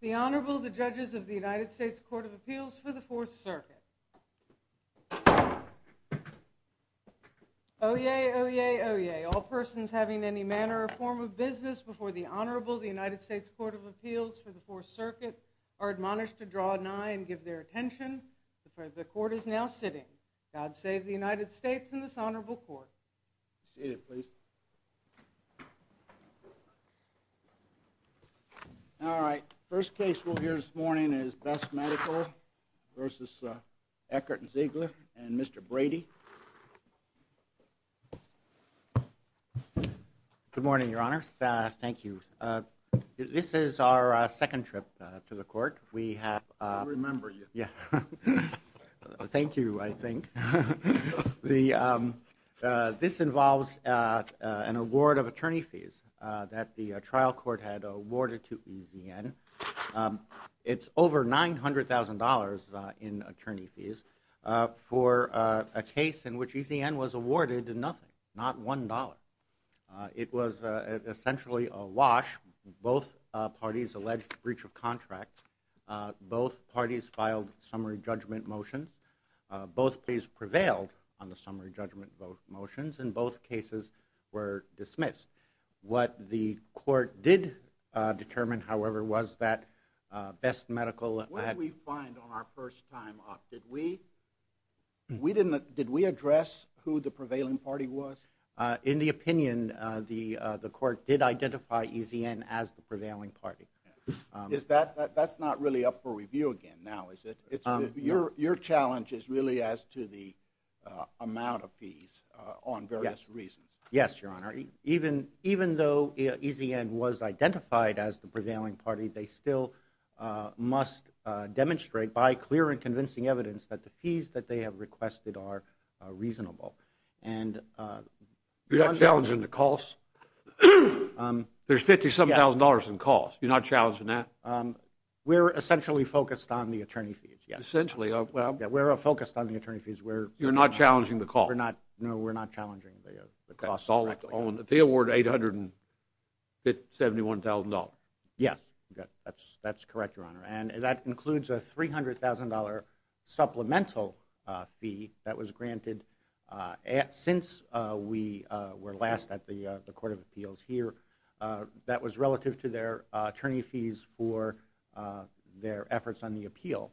The Honorable, the Judges of the United States Court of Appeals for the Fourth Circuit. Oyez, oyez, oyez. All persons having any manner or form of business before the Honorable, the United States Court of Appeals for the Fourth Circuit are admonished to draw an eye and give their attention. The Court is now sitting. God save the United States and this Honorable Court. All right. First case we'll hear this morning is Best Medical v. Eckert & Ziegler and Mr. Brady. Good morning, Your Honor. Thank you. This is our second trip to the court. We have… I remember you. Yeah. Thank you, I think. This involves an award of attorney fees that the trial court had awarded to EZN. It's over $900,000 in attorney fees for a case in which EZN was awarded nothing, not $1. It was essentially a wash. Both parties alleged breach of contract. Both parties filed summary judgment motions. Both parties prevailed on the summary judgment motions and both cases were dismissed. What the court did determine, however, was that Best Medical… What did we find on our first time up? Did we address who the prevailing party was? In the opinion, the court did identify EZN as the prevailing party. That's not really up for review again now, is it? Your challenge is really as to the amount of fees on various reasons. Yes, Your Honor. Even though EZN was identified as the prevailing party, they still must demonstrate by clear and convincing evidence that the fees that they have requested are reasonable. You're not challenging the costs? There's $57,000 in costs. You're not challenging that? We're essentially focused on the attorney fees. Essentially? We're focused on the attorney fees. You're not challenging the costs? No, we're not challenging the costs. They award $871,000. Yes, that's correct, Your Honor. That includes a $300,000 supplemental fee that was granted since we were last at the Court of Appeals here. That was relative to their attorney fees for their efforts on the appeal.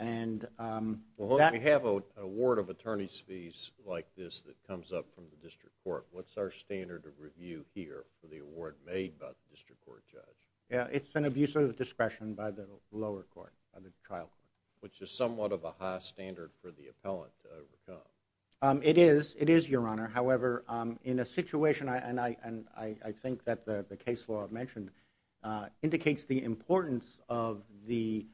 We have an award of attorney's fees like this that comes up from the District Court. What's our standard of review here for the award made by the District Court judge? It's an abuse of discretion by the lower court, by the trial court. Which is somewhat of a high standard for the appellant to overcome. It is, Your Honor. However, in a situation, and I think that the case law I've mentioned indicates the importance of the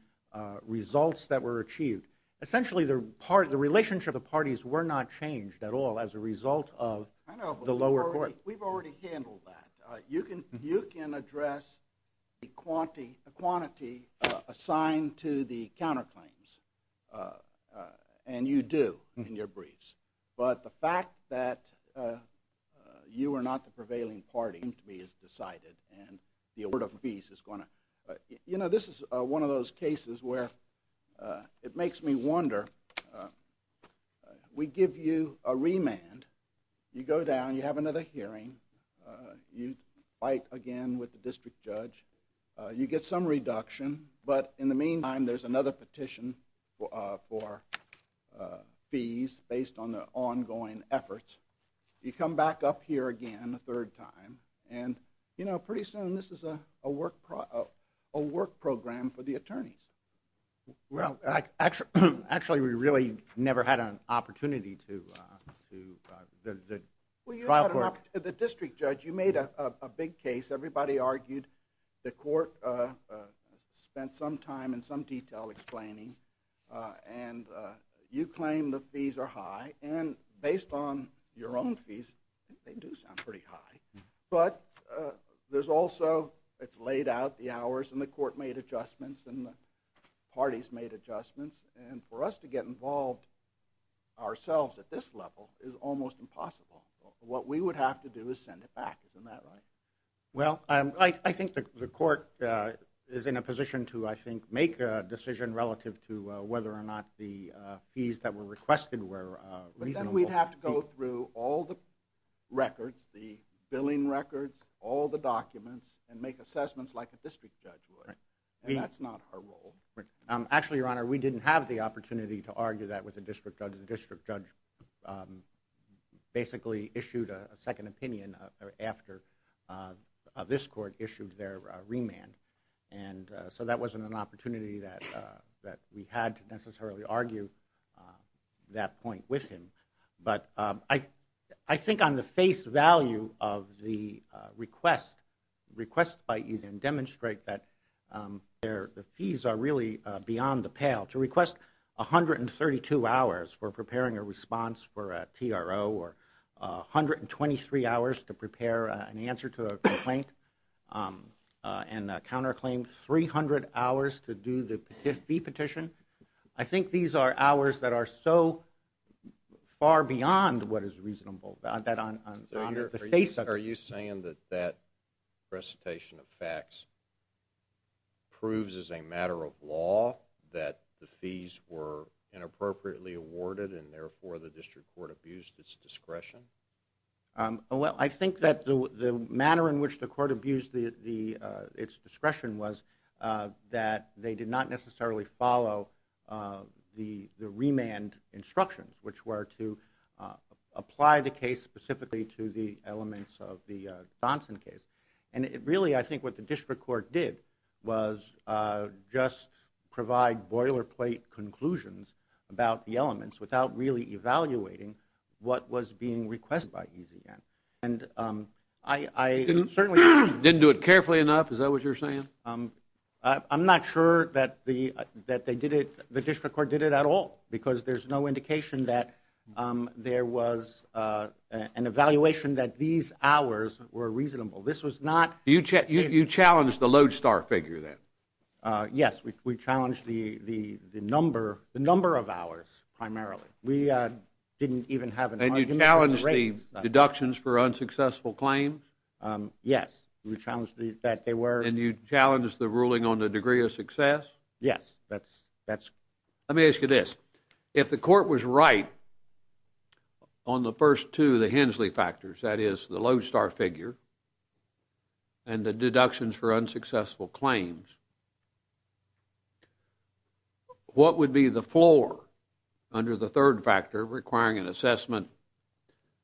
results that were achieved. Essentially, the relationship of the parties were not changed at all as a result of... I know, but we've already handled that. You can address the quantity assigned to the counterclaims, and you do in your briefs. But the fact that you are not the prevailing party is decided and the award of fees is going to... You know, this is one of those cases where it makes me wonder. We give you a remand. You go down, you have another hearing. You fight again with the district judge. You get some reduction, but in the meantime there's another petition for fees based on the ongoing efforts. You come back up here again a third time, and you know, pretty soon this is a work program for the attorneys. Well, actually we really never had an opportunity to... The district judge, you made a big case. Everybody argued. The court spent some time and some detail explaining, and you claim the fees are high. And based on your own fees, they do sound pretty high. But there's also... It's laid out, the hours, and the court made adjustments, and the parties made adjustments. And for us to get involved ourselves at this level is almost impossible. What we would have to do is send it back. Isn't that right? Well, I think the court is in a position to, I think, make a decision relative to whether or not the fees that were requested were reasonable. Then we'd have to go through all the records, the billing records, all the documents, and make assessments like a district judge would. And that's not our role. Actually, Your Honor, we didn't have the opportunity to argue that with the district judge. The district judge basically issued a second opinion after this court issued their remand. And so that wasn't an opportunity that we had to necessarily argue that point with him. But I think on the face value of the request, the request by Eason demonstrates that the fees are really beyond the pale. To request 132 hours for preparing a response for a TRO or 123 hours to prepare an answer to a complaint and counterclaim 300 hours to do the fee petition, I think these are hours that are so far beyond what is reasonable that on the face of it. Are you saying that that recitation of facts proves as a matter of law that the fees were inappropriately awarded and therefore the district court abused its discretion? Well, I think that the manner in which the court abused its discretion was that they did not necessarily follow the remand instructions, which were to apply the case specifically to the elements of the Johnson case. And really, I think what the district court did was just provide boilerplate conclusions about the elements without really evaluating what was being requested by Eason. And I certainly didn't do it carefully enough. Is that what you're saying? I'm not sure that the that they did it. The district court did it at all because there's no indication that there was an evaluation that these hours were reasonable. This was not. You challenge the lodestar figure that. Yes, we challenge the number of hours primarily. We didn't even have an argument. And you challenged the deductions for unsuccessful claims? Yes, we challenged that they were. And you challenged the ruling on the degree of success? Yes, that's. Let me ask you this. If the court was right on the first two of the Hensley factors, that is the lodestar figure and the deductions for unsuccessful claims, what would be the floor under the third factor requiring an assessment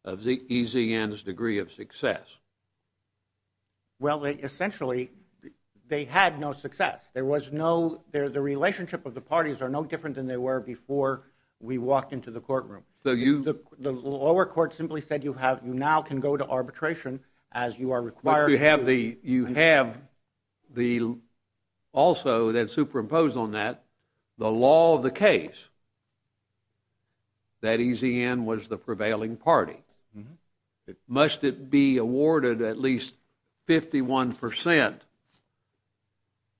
of the easy and his degree of success? Well, essentially, they had no success. There was no there. The relationship of the parties are no different than they were before we walked into the courtroom. So you the lower court simply said you have now can go to arbitration as you are required. You have the you have the also that superimpose on that the law of the case. That easy and was the prevailing party. Must it be awarded at least 51 percent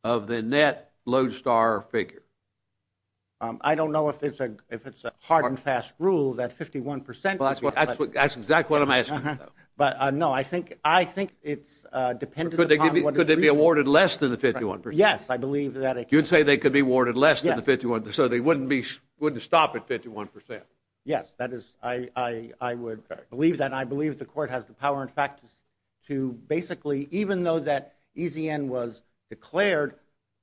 of the net lodestar figure? I don't know if it's a if it's a hard and fast rule that 51 percent. Well, that's what that's exactly what I'm asking. But no, I think I think it's dependent. Could they could they be awarded less than the 51? Yes, I believe that you'd say they could be awarded less than the 51. So they wouldn't be wouldn't stop at 51 percent. Yes, that is. I, I would believe that. I believe the court has the power, in fact, to to basically even though that easy and was declared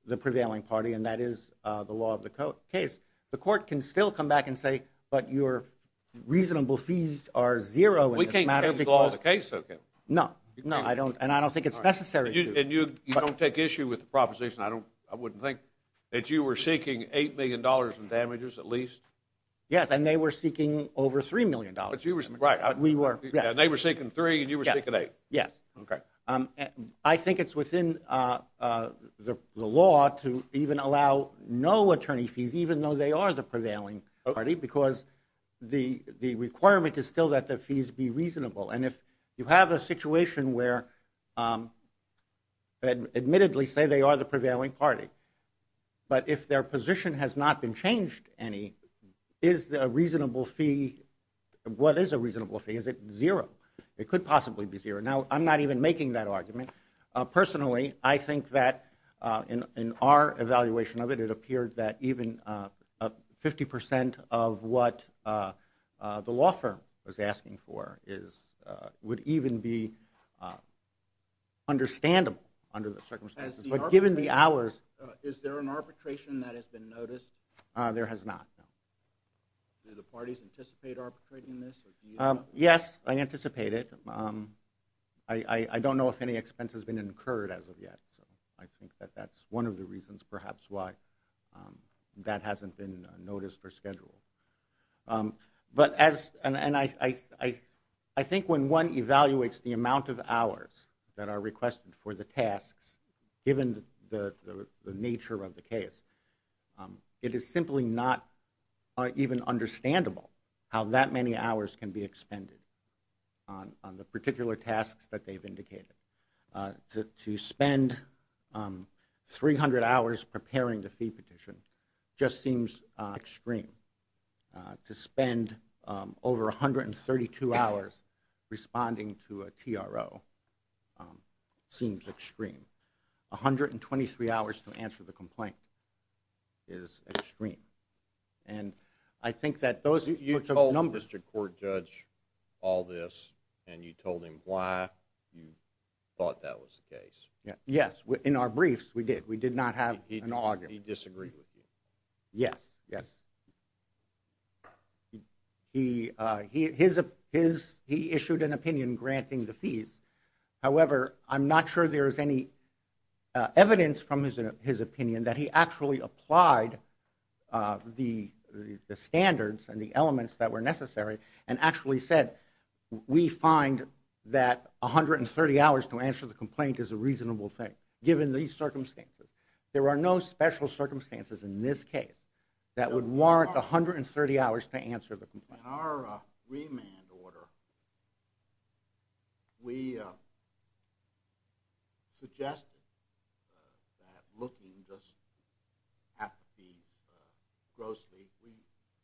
the prevailing party. And that is the law of the case. The court can still come back and say, but your reasonable fees are zero. We can't have the law of the case. No, no, I don't. And I don't think it's necessary. And you don't take issue with the proposition. I don't I wouldn't think that you were seeking eight million dollars in damages at least. Yes. And they were seeking over three million dollars. But you were right. We were. They were seeking three. And you were. Yes. OK. I think it's within the law to even allow no attorney fees, even though they are the prevailing party, because the the requirement is still that the fees be reasonable. And if you have a situation where. Admittedly, say they are the prevailing party. But if their position has not been changed, any is a reasonable fee. What is a reasonable fee? Is it zero? It could possibly be zero. Now, I'm not even making that argument. Personally, I think that in our evaluation of it, it appeared that even 50 percent of what the law firm was asking for is would even be understandable under the circumstances. But given the hours. Is there an arbitration that has been noticed? There has not. Do the parties anticipate arbitrating this? Yes, I anticipate it. I don't know if any expense has been incurred as of yet. So I think that that's one of the reasons perhaps why that hasn't been noticed or scheduled. But as I think when one evaluates the amount of hours that are requested for the tasks, given the nature of the case, it is simply not even understandable how that many hours can be expended on the particular tasks that they've indicated. To spend 300 hours preparing the fee petition just seems extreme. To spend over 132 hours responding to a TRO seems extreme. 123 hours to answer the complaint is extreme. You told Mr. Court Judge all this and you told him why you thought that was the case. Yes, in our briefs we did. We did not have an argument. He disagreed with you. Yes, yes. He issued an opinion granting the fees. However, I'm not sure there is any evidence from his opinion that he actually applied the standards and the elements that were necessary and actually said we find that 130 hours to answer the complaint is a reasonable thing, given these circumstances. There are no special circumstances in this case that would warrant 130 hours to answer the complaint. In our remand order, we suggested that looking at the gross fee, we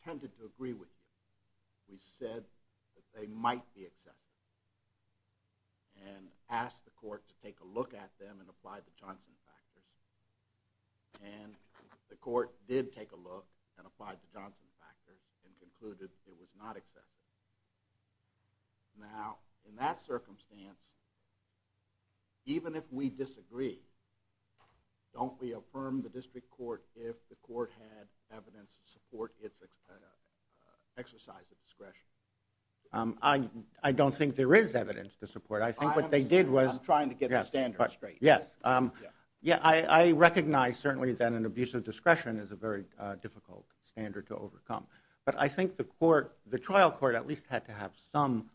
tended to agree with you. We said that they might be acceptable and asked the court to take a look at them and apply the Johnson factors. And the court did take a look and applied the Johnson factors and concluded it was not acceptable. Now, in that circumstance, even if we disagree, don't we affirm the district court if the court had evidence to support its exercise of discretion? I don't think there is evidence to support it. I think what they did was... I'm trying to get the standards straight. Yes, I recognize certainly that an abuse of discretion is a very difficult standard to overcome. But I think the trial court at least had to have some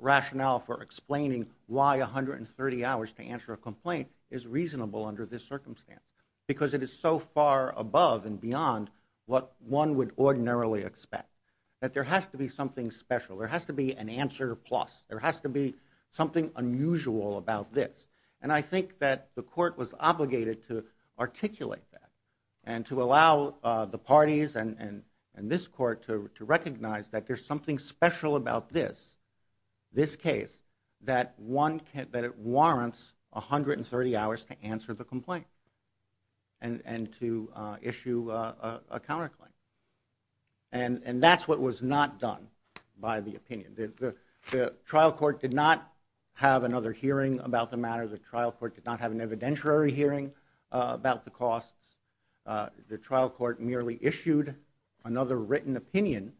rationale for explaining why 130 hours to answer a complaint is reasonable under this circumstance. Because it is so far above and beyond what one would ordinarily expect. That there has to be something special. There has to be an answer plus. There has to be something unusual about this. And I think that the court was obligated to articulate that. And to allow the parties and this court to recognize that there is something special about this, this case, that it warrants 130 hours to answer the complaint and to issue a counterclaim. And that's what was not done by the opinion. The trial court did not have another hearing about the matter. The trial court did not have an evidentiary hearing about the costs. The trial court merely issued another written opinion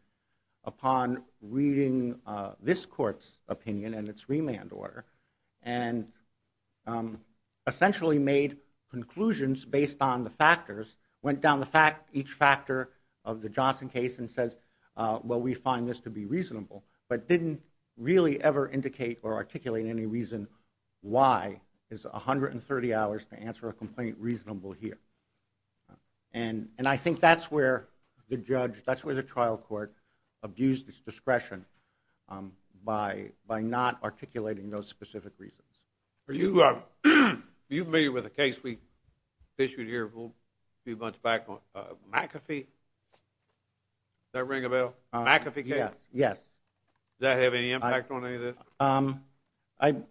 upon reading this court's opinion and its remand order. And essentially made conclusions based on the factors. Went down each factor of the Johnson case and said, well, we find this to be reasonable. But didn't really ever indicate or articulate any reason why is 130 hours to answer a complaint reasonable here. And I think that's where the judge, that's where the trial court abused its discretion by not articulating those specific reasons. Are you familiar with a case we issued here a few months back on McAfee? Does that ring a bell? McAfee case? Yes. Does that have any impact on any of this?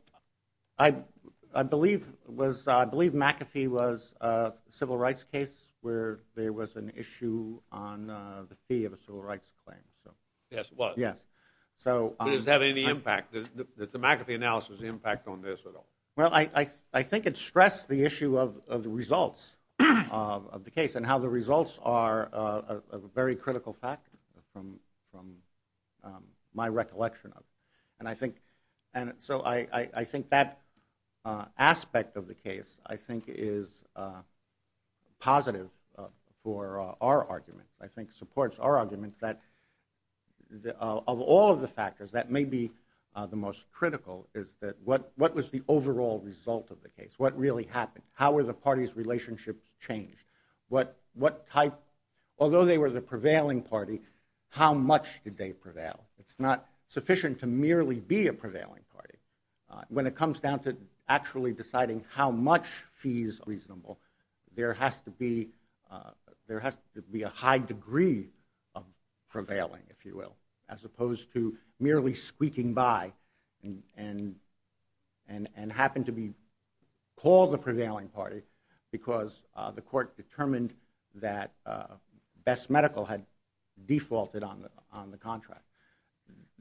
I believe McAfee was a civil rights case where there was an issue on the fee of a civil rights claim. Yes, it was. Yes. Does it have any impact, the McAfee analysis impact on this at all? Well, I think it stressed the issue of the results of the case and how the results are a very critical fact from my recollection. And so I think that aspect of the case I think is positive for our argument. I think supports our argument that of all of the factors that may be the most critical is that what was the overall result of the case? What really happened? How were the parties' relationships changed? What type, although they were the prevailing party, how much did they prevail? It's not sufficient to merely be a prevailing party. When it comes down to actually deciding how much fees are reasonable, there has to be a high degree of prevailing, if you will, as opposed to merely squeaking by and happen to be called the prevailing party because the court determined that Best Medical had defaulted on the contract.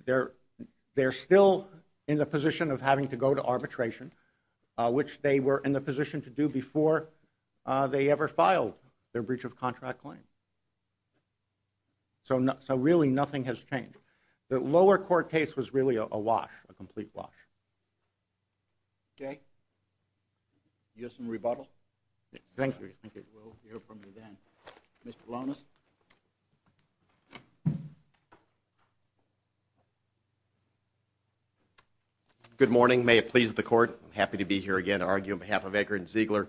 They're still in the position of having to go to arbitration, which they were in the position to do before they ever filed their breach of contract claim. So really nothing has changed. The lower court case was really a wash, a complete wash. Okay. You have some rebuttal? Thank you. We'll hear from you then. Mr. Polonis? Good morning. May it please the court, I'm happy to be here again to argue on behalf of Eckert and Ziegler.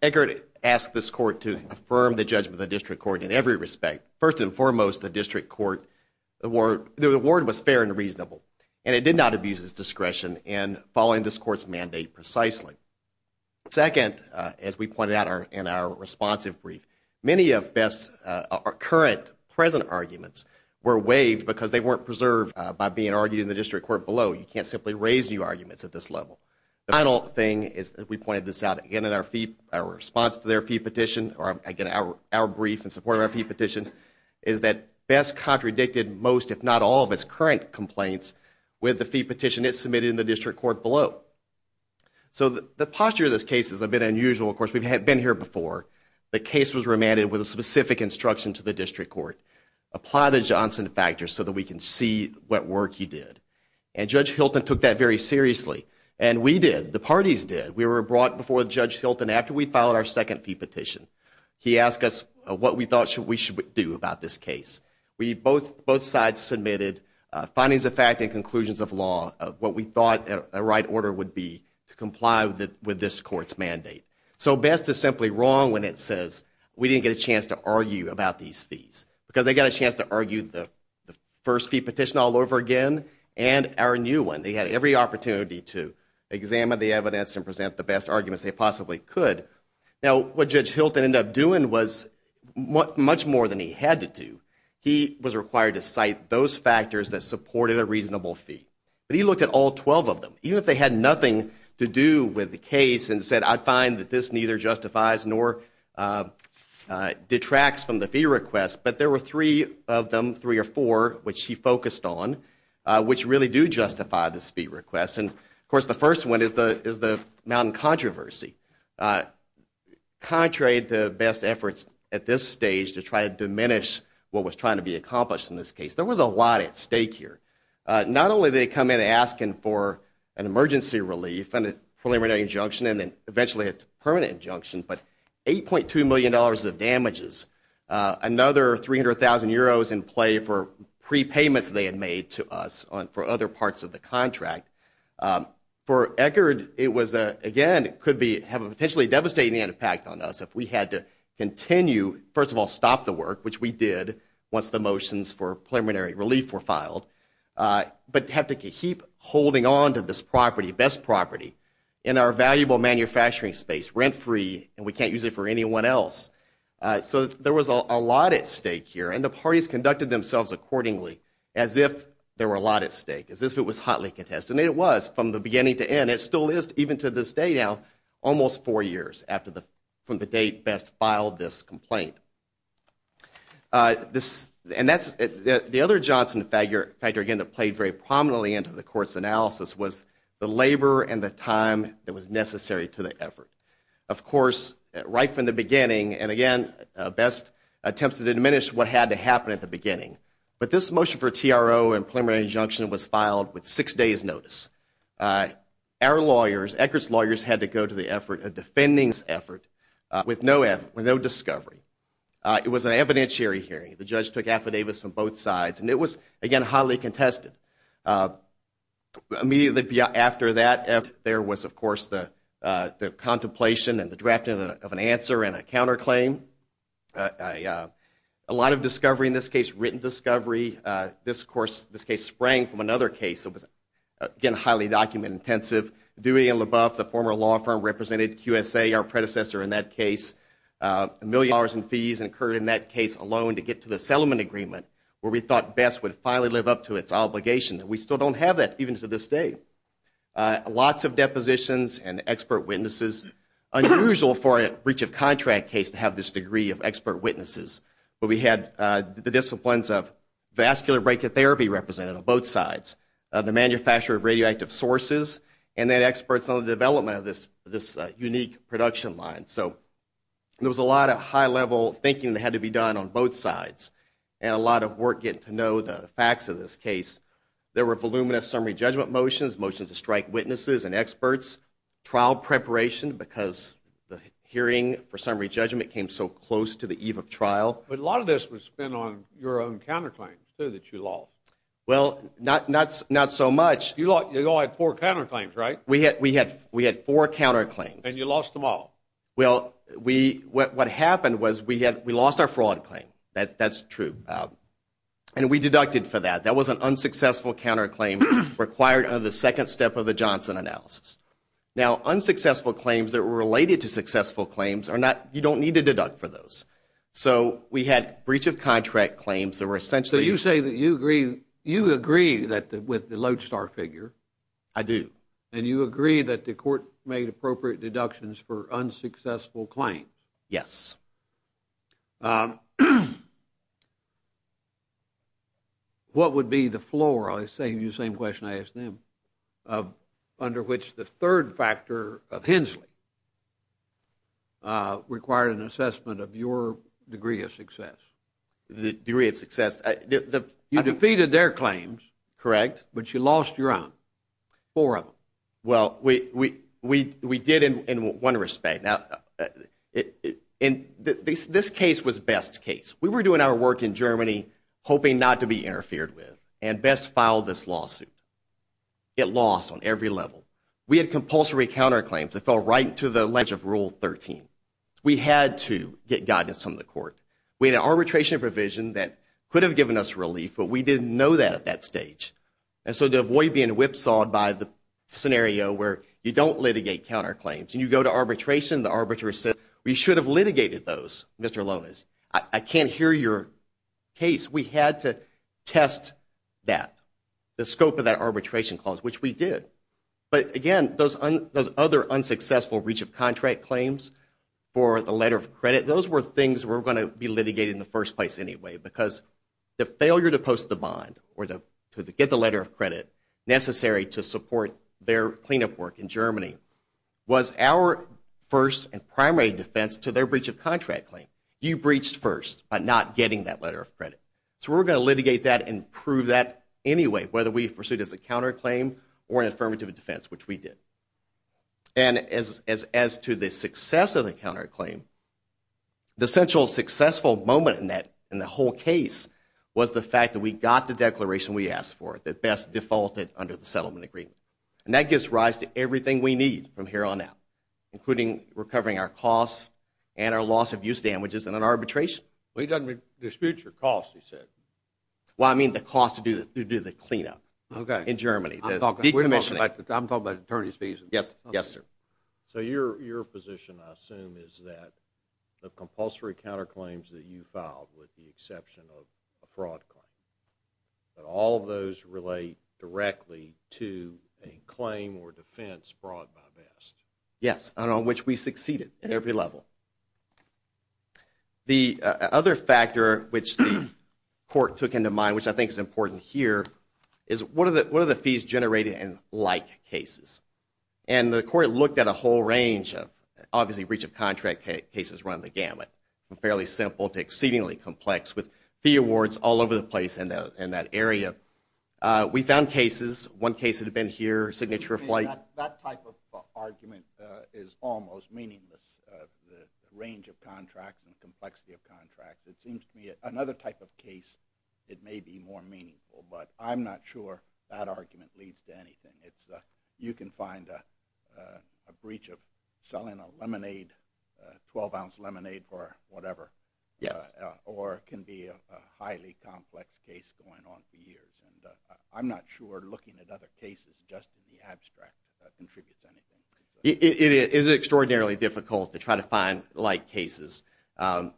Eckert asked this court to affirm the judgment of the district court in every respect. First and foremost, the district court, the award was fair and reasonable, and it did not abuse its discretion in following this court's mandate precisely. Second, as we pointed out in our responsive brief, many of Best's current, present arguments were waived because they weren't preserved by being argued in the district court below. You can't simply raise new arguments at this level. The final thing is, as we pointed this out again in our response to their fee petition, or again, our brief in support of our fee petition, is that Best contradicted most, if not all, of its current complaints with the fee petition it submitted in the district court below. The posture of this case is a bit unusual. Of course, we've been here before. The case was remanded with a specific instruction to the district court, apply the Johnson factor so that we can see what work he did. Judge Hilton took that very seriously, and we did. The parties did. We were brought before Judge Hilton after we filed our second fee petition. He asked us what we thought we should do about this case. We both sides submitted findings of fact and conclusions of law, what we thought the right order would be to comply with this court's mandate. So Best is simply wrong when it says we didn't get a chance to argue about these fees, because they got a chance to argue the first fee petition all over again and our new one. They had every opportunity to examine the evidence and present the best arguments they possibly could. Now, what Judge Hilton ended up doing was much more than he had to do. He was required to cite those factors that supported a reasonable fee. But he looked at all 12 of them. Even if they had nothing to do with the case and said, I find that this neither justifies nor detracts from the fee request, but there were three of them, three or four, which he focused on, which really do justify this fee request. And, of course, the first one is the mountain controversy. Contrary to Best's efforts at this stage to try to diminish what was trying to be accomplished in this case, there was a lot at stake here. Not only did they come in asking for an emergency relief and a preliminary injunction and then eventually a permanent injunction, but $8.2 million of damages, another 300,000 euros in play for prepayments they had made to us for other parts of the contract. For Eckerd, it was, again, it could have a potentially devastating impact on us if we had to continue, first of all, stop the work, which we did once the motions for preliminary relief were filed, but have to keep holding on to this property, Best property, in our valuable manufacturing space, rent-free, and we can't use it for anyone else. So there was a lot at stake here, and the parties conducted themselves accordingly as if there were a lot at stake, as if it was hotly contested, and it was from the beginning to end. It still is, even to this day now, almost four years from the date Best filed this complaint. The other Johnson factor, again, that played very prominently into the court's analysis was the labor and the time that was necessary to the effort. Of course, right from the beginning, and again, Best attempted to diminish what had to happen at the beginning, but this motion for TRO and preliminary injunction was filed with six days' notice. Our lawyers, Eckert's lawyers, had to go to the defending's effort with no discovery. It was an evidentiary hearing. The judge took affidavits from both sides, and it was, again, hotly contested. Immediately after that, there was, of course, the contemplation and the drafting of an answer and a counterclaim. A lot of discovery in this case, written discovery. This case sprang from another case that was, again, highly document-intensive. Dewey and LaBeouf, the former law firm, represented QSA, our predecessor in that case. A million dollars in fees occurred in that case alone to get to the settlement agreement, where we thought Best would finally live up to its obligation. We still don't have that, even to this day. Lots of depositions and expert witnesses. Unusual for a breach of contract case to have this degree of expert witnesses, but we had the disciplines of vascular brachytherapy represented on both sides, the manufacture of radioactive sources, and then experts on the development of this unique production line. So there was a lot of high-level thinking that had to be done on both sides, and a lot of work getting to know the facts of this case. There were voluminous summary judgment motions, motions to strike witnesses and experts, trial preparation because the hearing for summary judgment came so close to the eve of trial. But a lot of this was spent on your own counterclaims, too, that you lost. Well, not so much. You all had four counterclaims, right? We had four counterclaims. And you lost them all. Well, what happened was we lost our fraud claim. That's true. And we deducted for that. That was an unsuccessful counterclaim required under the second step of the Johnson analysis. Now, unsuccessful claims that were related to successful claims are not you don't need to deduct for those. So we had breach of contract claims that were essentially. So you say that you agree that with the lodestar figure. I do. And you agree that the court made appropriate deductions for unsuccessful claims. Yes. Yes. What would be the floor? I save you the same question I asked them, under which the third factor of Hensley required an assessment of your degree of success. The degree of success. You defeated their claims. Correct. But you lost your own. Four of them. Well, we did in one respect. And this case was best case. We were doing our work in Germany, hoping not to be interfered with, and best file this lawsuit. It lost on every level. We had compulsory counterclaims that fell right to the ledge of rule 13. We had to get guidance from the court. We had an arbitration provision that could have given us relief, but we didn't know that at that stage. And so to avoid being whipsawed by the scenario where you don't litigate counterclaims, and you go to arbitration, the arbitrator says, we should have litigated those, Mr. Lonas. I can't hear your case. We had to test that, the scope of that arbitration clause, which we did. But, again, those other unsuccessful reach of contract claims for the letter of credit, those were things that were going to be litigated in the first place anyway, because the failure to post the bond or to get the letter of credit necessary to support their cleanup work in Germany was our first and primary defense to their breach of contract claim. You breached first by not getting that letter of credit. So we were going to litigate that and prove that anyway, whether we pursued it as a counterclaim or an affirmative defense, which we did. And as to the success of the counterclaim, the central successful moment in the whole case was the fact that we got the declaration we asked for that best defaulted under the settlement agreement. And that gives rise to everything we need from here on out, including recovering our costs and our loss of use damages in an arbitration. Well, he doesn't dispute your costs, he said. Well, I mean the cost to do the cleanup in Germany, the decommissioning. I'm talking about attorney's fees. Yes, sir. So your position, I assume, is that the compulsory counterclaims that you filed, with the exception of a fraud claim, that all of those relate directly to a claim or defense brought by VEST? Yes, and on which we succeeded at every level. The other factor which the court took into mind, which I think is important here, is what are the fees generated in like cases? And the court looked at a whole range of, obviously, breach of contract cases run the gamut, from fairly simple to exceedingly complex, with fee awards all over the place in that area. We found cases, one case that had been here, signature of flight. That type of argument is almost meaningless, the range of contracts and complexity of contracts. It seems to me another type of case, it may be more meaningful, but I'm not sure that argument leads to anything. You can find a breach of selling a lemonade, a 12-ounce lemonade or whatever. Yes. Or it can be a highly complex case going on for years. I'm not sure looking at other cases just in the abstract contributes to anything. It is extraordinarily difficult to try to find like cases. My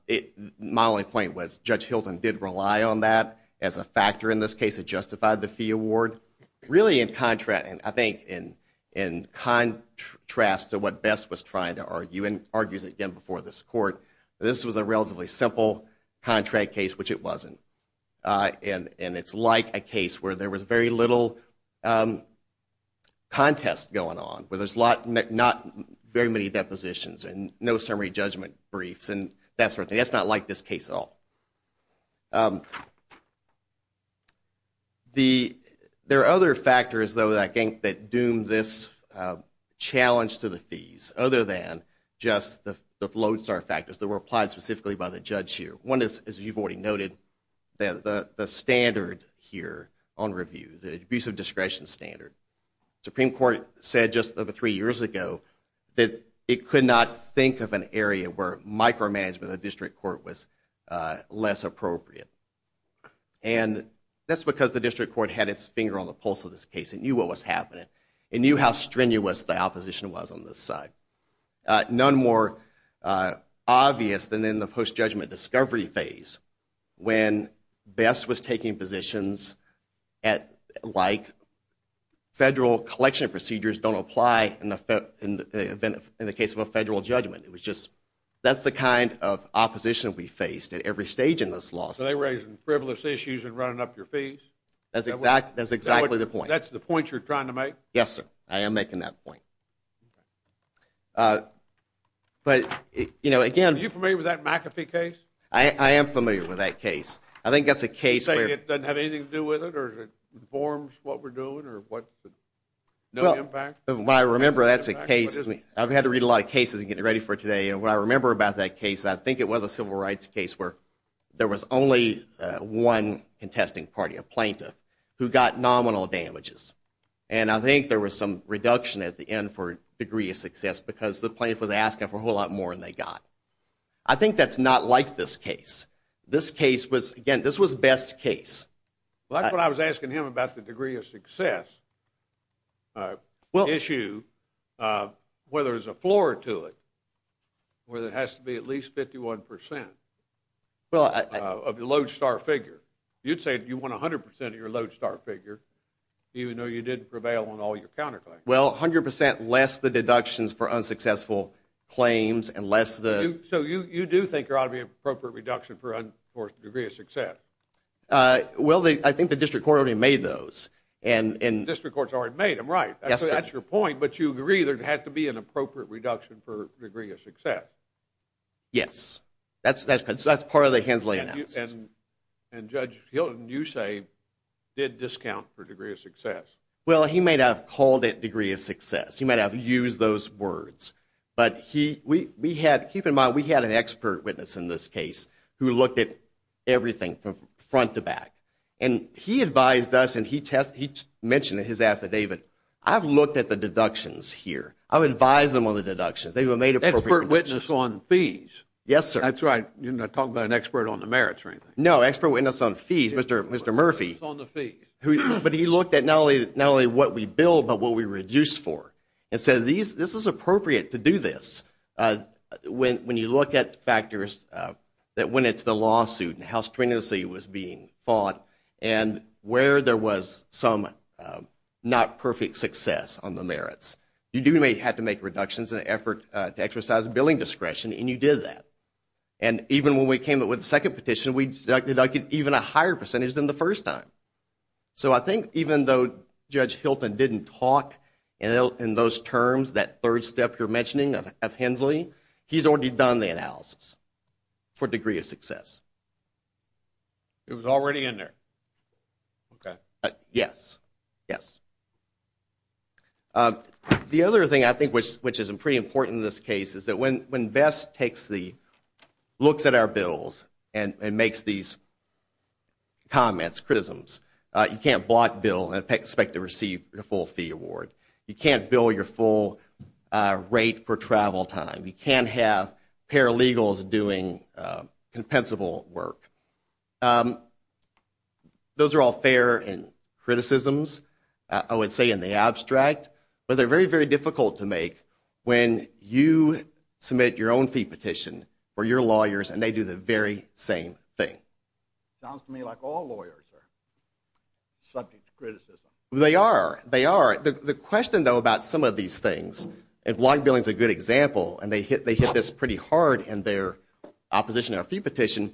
only point was Judge Hilton did rely on that as a factor in this case. It justified the fee award. Really in contrast to what VEST was trying to argue, and argues it again before this court, this was a relatively simple contract case, which it wasn't. And it's like a case where there was very little contest going on, where there's not very many depositions and no summary judgment briefs. That's not like this case at all. There are other factors, though, I think that doomed this challenge to the fees, other than just the lodestar factors that were applied specifically by the judge here. One is, as you've already noted, the standard here on review, the abuse of discretion standard. The Supreme Court said just over three years ago that it could not think of an area where micromanagement of the district court was less appropriate. And that's because the district court had its finger on the pulse of this case. It knew what was happening. It knew how strenuous the opposition was on this side. None more obvious than in the post-judgment discovery phase, when VEST was taking positions like federal collection procedures don't apply in the case of a federal judgment. That's the kind of opposition we faced at every stage in this law. So they were raising frivolous issues and running up your fees? That's exactly the point. That's the point you're trying to make? Yes, sir. I am making that point. But, you know, again- Are you familiar with that McAfee case? I am familiar with that case. I think that's a case where- You're saying it doesn't have anything to do with it, or it informs what we're doing, or what- Well, what I remember, that's a case- I've had to read a lot of cases to get ready for today, and what I remember about that case, I think it was a civil rights case where there was only one contesting party, a plaintiff, who got nominal damages. And I think there was some reduction at the end for degree of success because the plaintiff was asking for a whole lot more than they got. I think that's not like this case. This case was- Again, this was best case. Well, that's what I was asking him about the degree of success issue, whether there's a floor to it, where there has to be at least 51% of the lodestar figure. You'd say you want 100% of your lodestar figure, even though you didn't prevail on all your counterclaims. Well, 100% less the deductions for unsuccessful claims, and less the- So you do think there ought to be an appropriate reduction for degree of success? Well, I think the district court already made those. The district court's already made them, right. That's your point, but you agree there has to be an appropriate reduction for degree of success. Yes. That's part of the Hensley analysis. And Judge Hilton, you say, did discount for degree of success. Well, he may not have called it degree of success. He may not have used those words, but we had- Keep in mind, we had an expert witness in this case who looked at everything from front to back. And he advised us, and he mentioned in his affidavit, I've looked at the deductions here. I would advise them on the deductions. Expert witness on fees. Yes, sir. That's right. You're not talking about an expert on the merits or anything. No, expert witness on fees. Mr. Murphy- Expert witness on the fees. But he looked at not only what we bill but what we reduce for and said this is appropriate to do this. When you look at factors that went into the lawsuit and how strenuously it was being fought and where there was some not perfect success on the merits. You do have to make reductions in an effort to exercise billing discretion, and you did that. And even when we came up with the second petition, we deducted even a higher percentage than the first time. So I think even though Judge Hilton didn't talk in those terms, that third step you're mentioning of Hensley, he's already done the analysis for degree of success. It was already in there. Okay. Yes. Yes. The other thing I think which is pretty important in this case is that when BESS takes the looks at our bills and makes these comments, criticisms, you can't block bill and expect to receive a full fee award. You can't bill your full rate for travel time. You can't have paralegals doing compensable work. Those are all fair criticisms, I would say, in the abstract, but they're very, very difficult to make when you submit your own fee petition for your lawyers and they do the very same thing. Sounds to me like all lawyers are subject to criticism. They are. They are. The question, though, about some of these things, and block billing is a good example, and they hit this pretty hard in their opposition to our fee petition,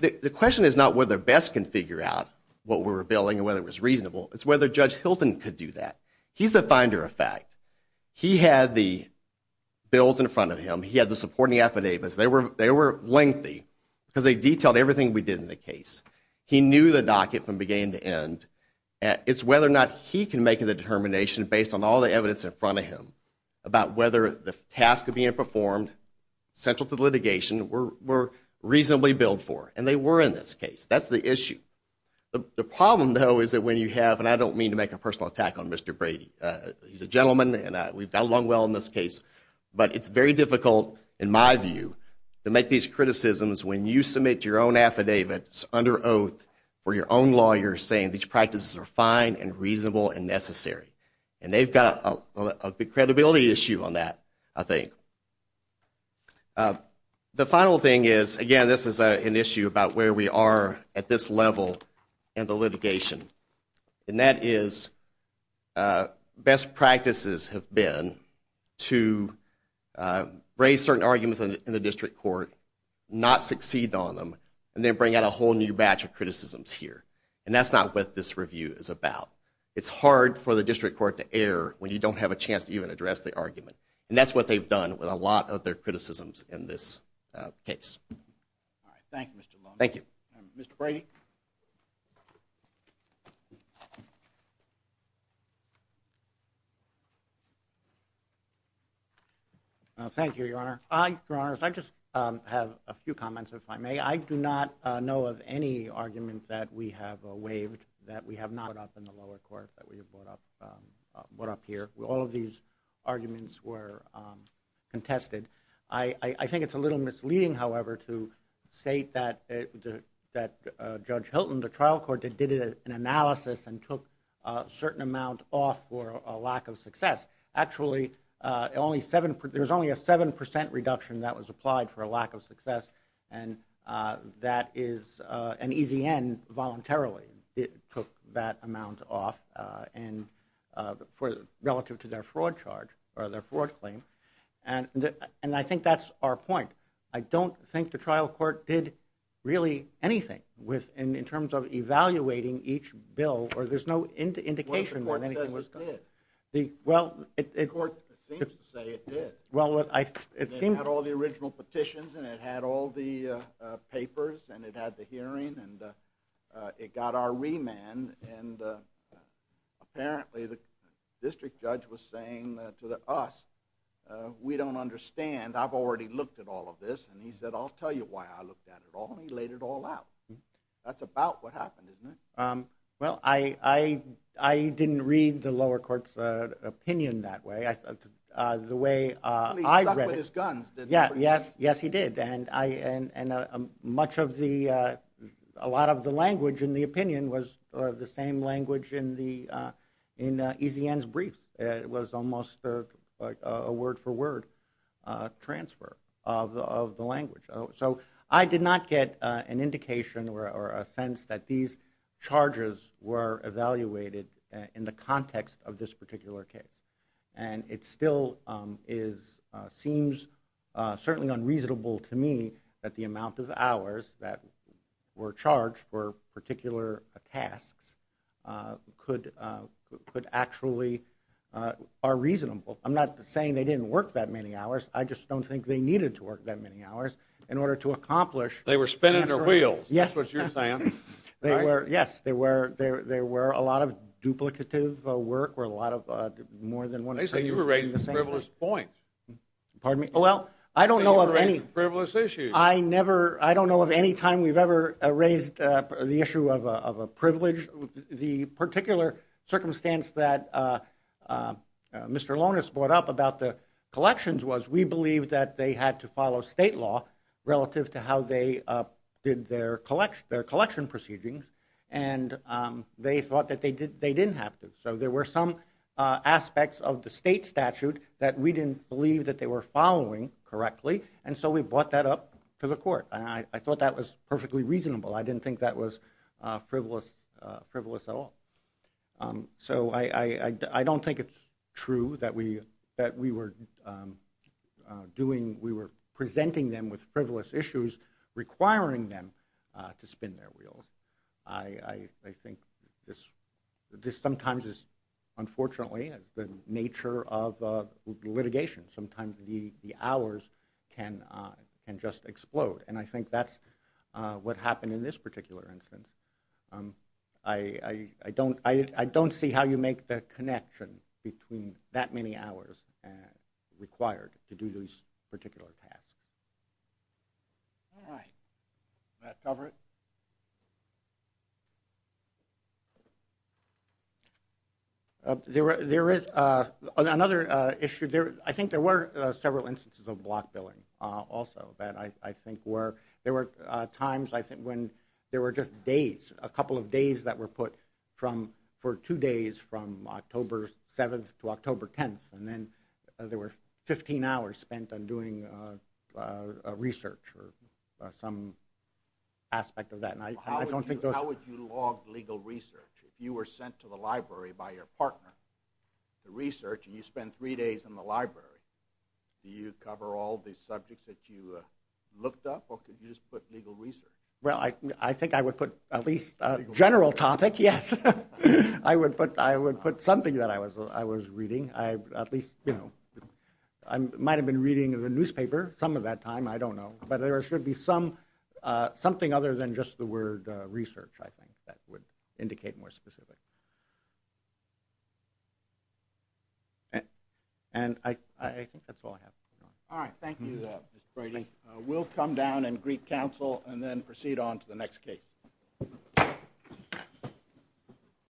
the question is not whether BESS can figure out what we're billing and whether it was reasonable. It's whether Judge Hilton could do that. He's the finder of fact. He had the bills in front of him. He had the supporting affidavits. They were lengthy because they detailed everything we did in the case. He knew the docket from beginning to end. It's whether or not he can make the determination, based on all the evidence in front of him, about whether the task of being performed central to litigation were reasonably billed for, and they were in this case. That's the issue. The problem, though, is that when you have, and I don't mean to make a personal attack on Mr. Brady. He's a gentleman, and we've got along well in this case. But it's very difficult, in my view, to make these criticisms when you submit your own affidavits under oath for your own lawyer saying these practices are fine and reasonable and necessary. And they've got a big credibility issue on that, I think. The final thing is, again, this is an issue about where we are at this level in the litigation. And that is best practices have been to raise certain arguments in the district court, not succeed on them, and then bring out a whole new batch of criticisms here. And that's not what this review is about. It's hard for the district court to err when you don't have a chance to even address the argument. And that's what they've done with a lot of their criticisms in this case. All right. Thank you, Mr. Long. Thank you. Mr. Brady. Mr. Brady. Thank you, Your Honor. Your Honors, I just have a few comments, if I may. I do not know of any argument that we have waived, that we have not brought up in the lower court, that we have brought up here. All of these arguments were contested. I think it's a little misleading, however, to state that Judge Hilton, the trial court, did an analysis and took a certain amount off for a lack of success. Actually, there was only a 7% reduction that was applied for a lack of success, and that is an easy end voluntarily. It took that amount off relative to their fraud charge or their fraud claim. And I think that's our point. I don't think the trial court did really anything in terms of evaluating each bill, or there's no indication that anything was done. Well, the court says it did. The court seems to say it did. It had all the original petitions, and it had all the papers, and it had the hearing, and it got our remand. And apparently the district judge was saying to us, we don't understand, I've already looked at all of this. And he said, I'll tell you why I looked at it all, and he laid it all out. That's about what happened, isn't it? Well, I didn't read the lower court's opinion that way. He stuck with his guns. Yes, he did. And a lot of the language in the opinion was the same language in EZN's brief. It was almost a word-for-word transfer of the language. So I did not get an indication or a sense that these charges were evaluated in the context of this particular case. And it still seems certainly unreasonable to me that the amount of hours that were charged for particular tasks could actually are reasonable. I'm not saying they didn't work that many hours. I just don't think they needed to work that many hours in order to accomplish They were spinning their wheels. Yes. That's what you're saying. Yes, there were a lot of duplicative work where a lot of more than one They say you were raising a frivolous point. Pardon me? I don't know of any time we've ever raised the issue of a privilege. The particular circumstance that Mr. Lonis brought up about the collections was we believe that they had to follow state law relative to how they did their collection proceedings, and they thought that they didn't have to. So there were some aspects of the state statute that we didn't believe that they were following correctly, and so we brought that up to the court. I thought that was perfectly reasonable. I didn't think that was frivolous at all. So I don't think it's true that we were presenting them with frivolous issues, requiring them to spin their wheels. I think this sometimes is, unfortunately, the nature of litigation. Sometimes the hours can just explode, and I think that's what happened in this particular instance. I don't see how you make the connection between that many hours required to do these particular tasks. All right. Does that cover it? There is another issue. I think there were several instances of block billing also. There were times when there were just days, a couple of days that were put for two days from October 7th to October 10th, and then there were 15 hours spent on doing research or some aspect of that. How would you log legal research if you were sent to the library by your partner to research and you spend three days in the library? Do you cover all the subjects that you looked up, or could you just put legal research? Well, I think I would put at least a general topic, yes. I would put something that I was reading. I might have been reading the newspaper some of that time, I don't know, but there should be something other than just the word research, I think, that would indicate more specifically. I think that's all I have. All right. Thank you, Mr. Brady. We'll come down and greet counsel and then proceed on to the next case.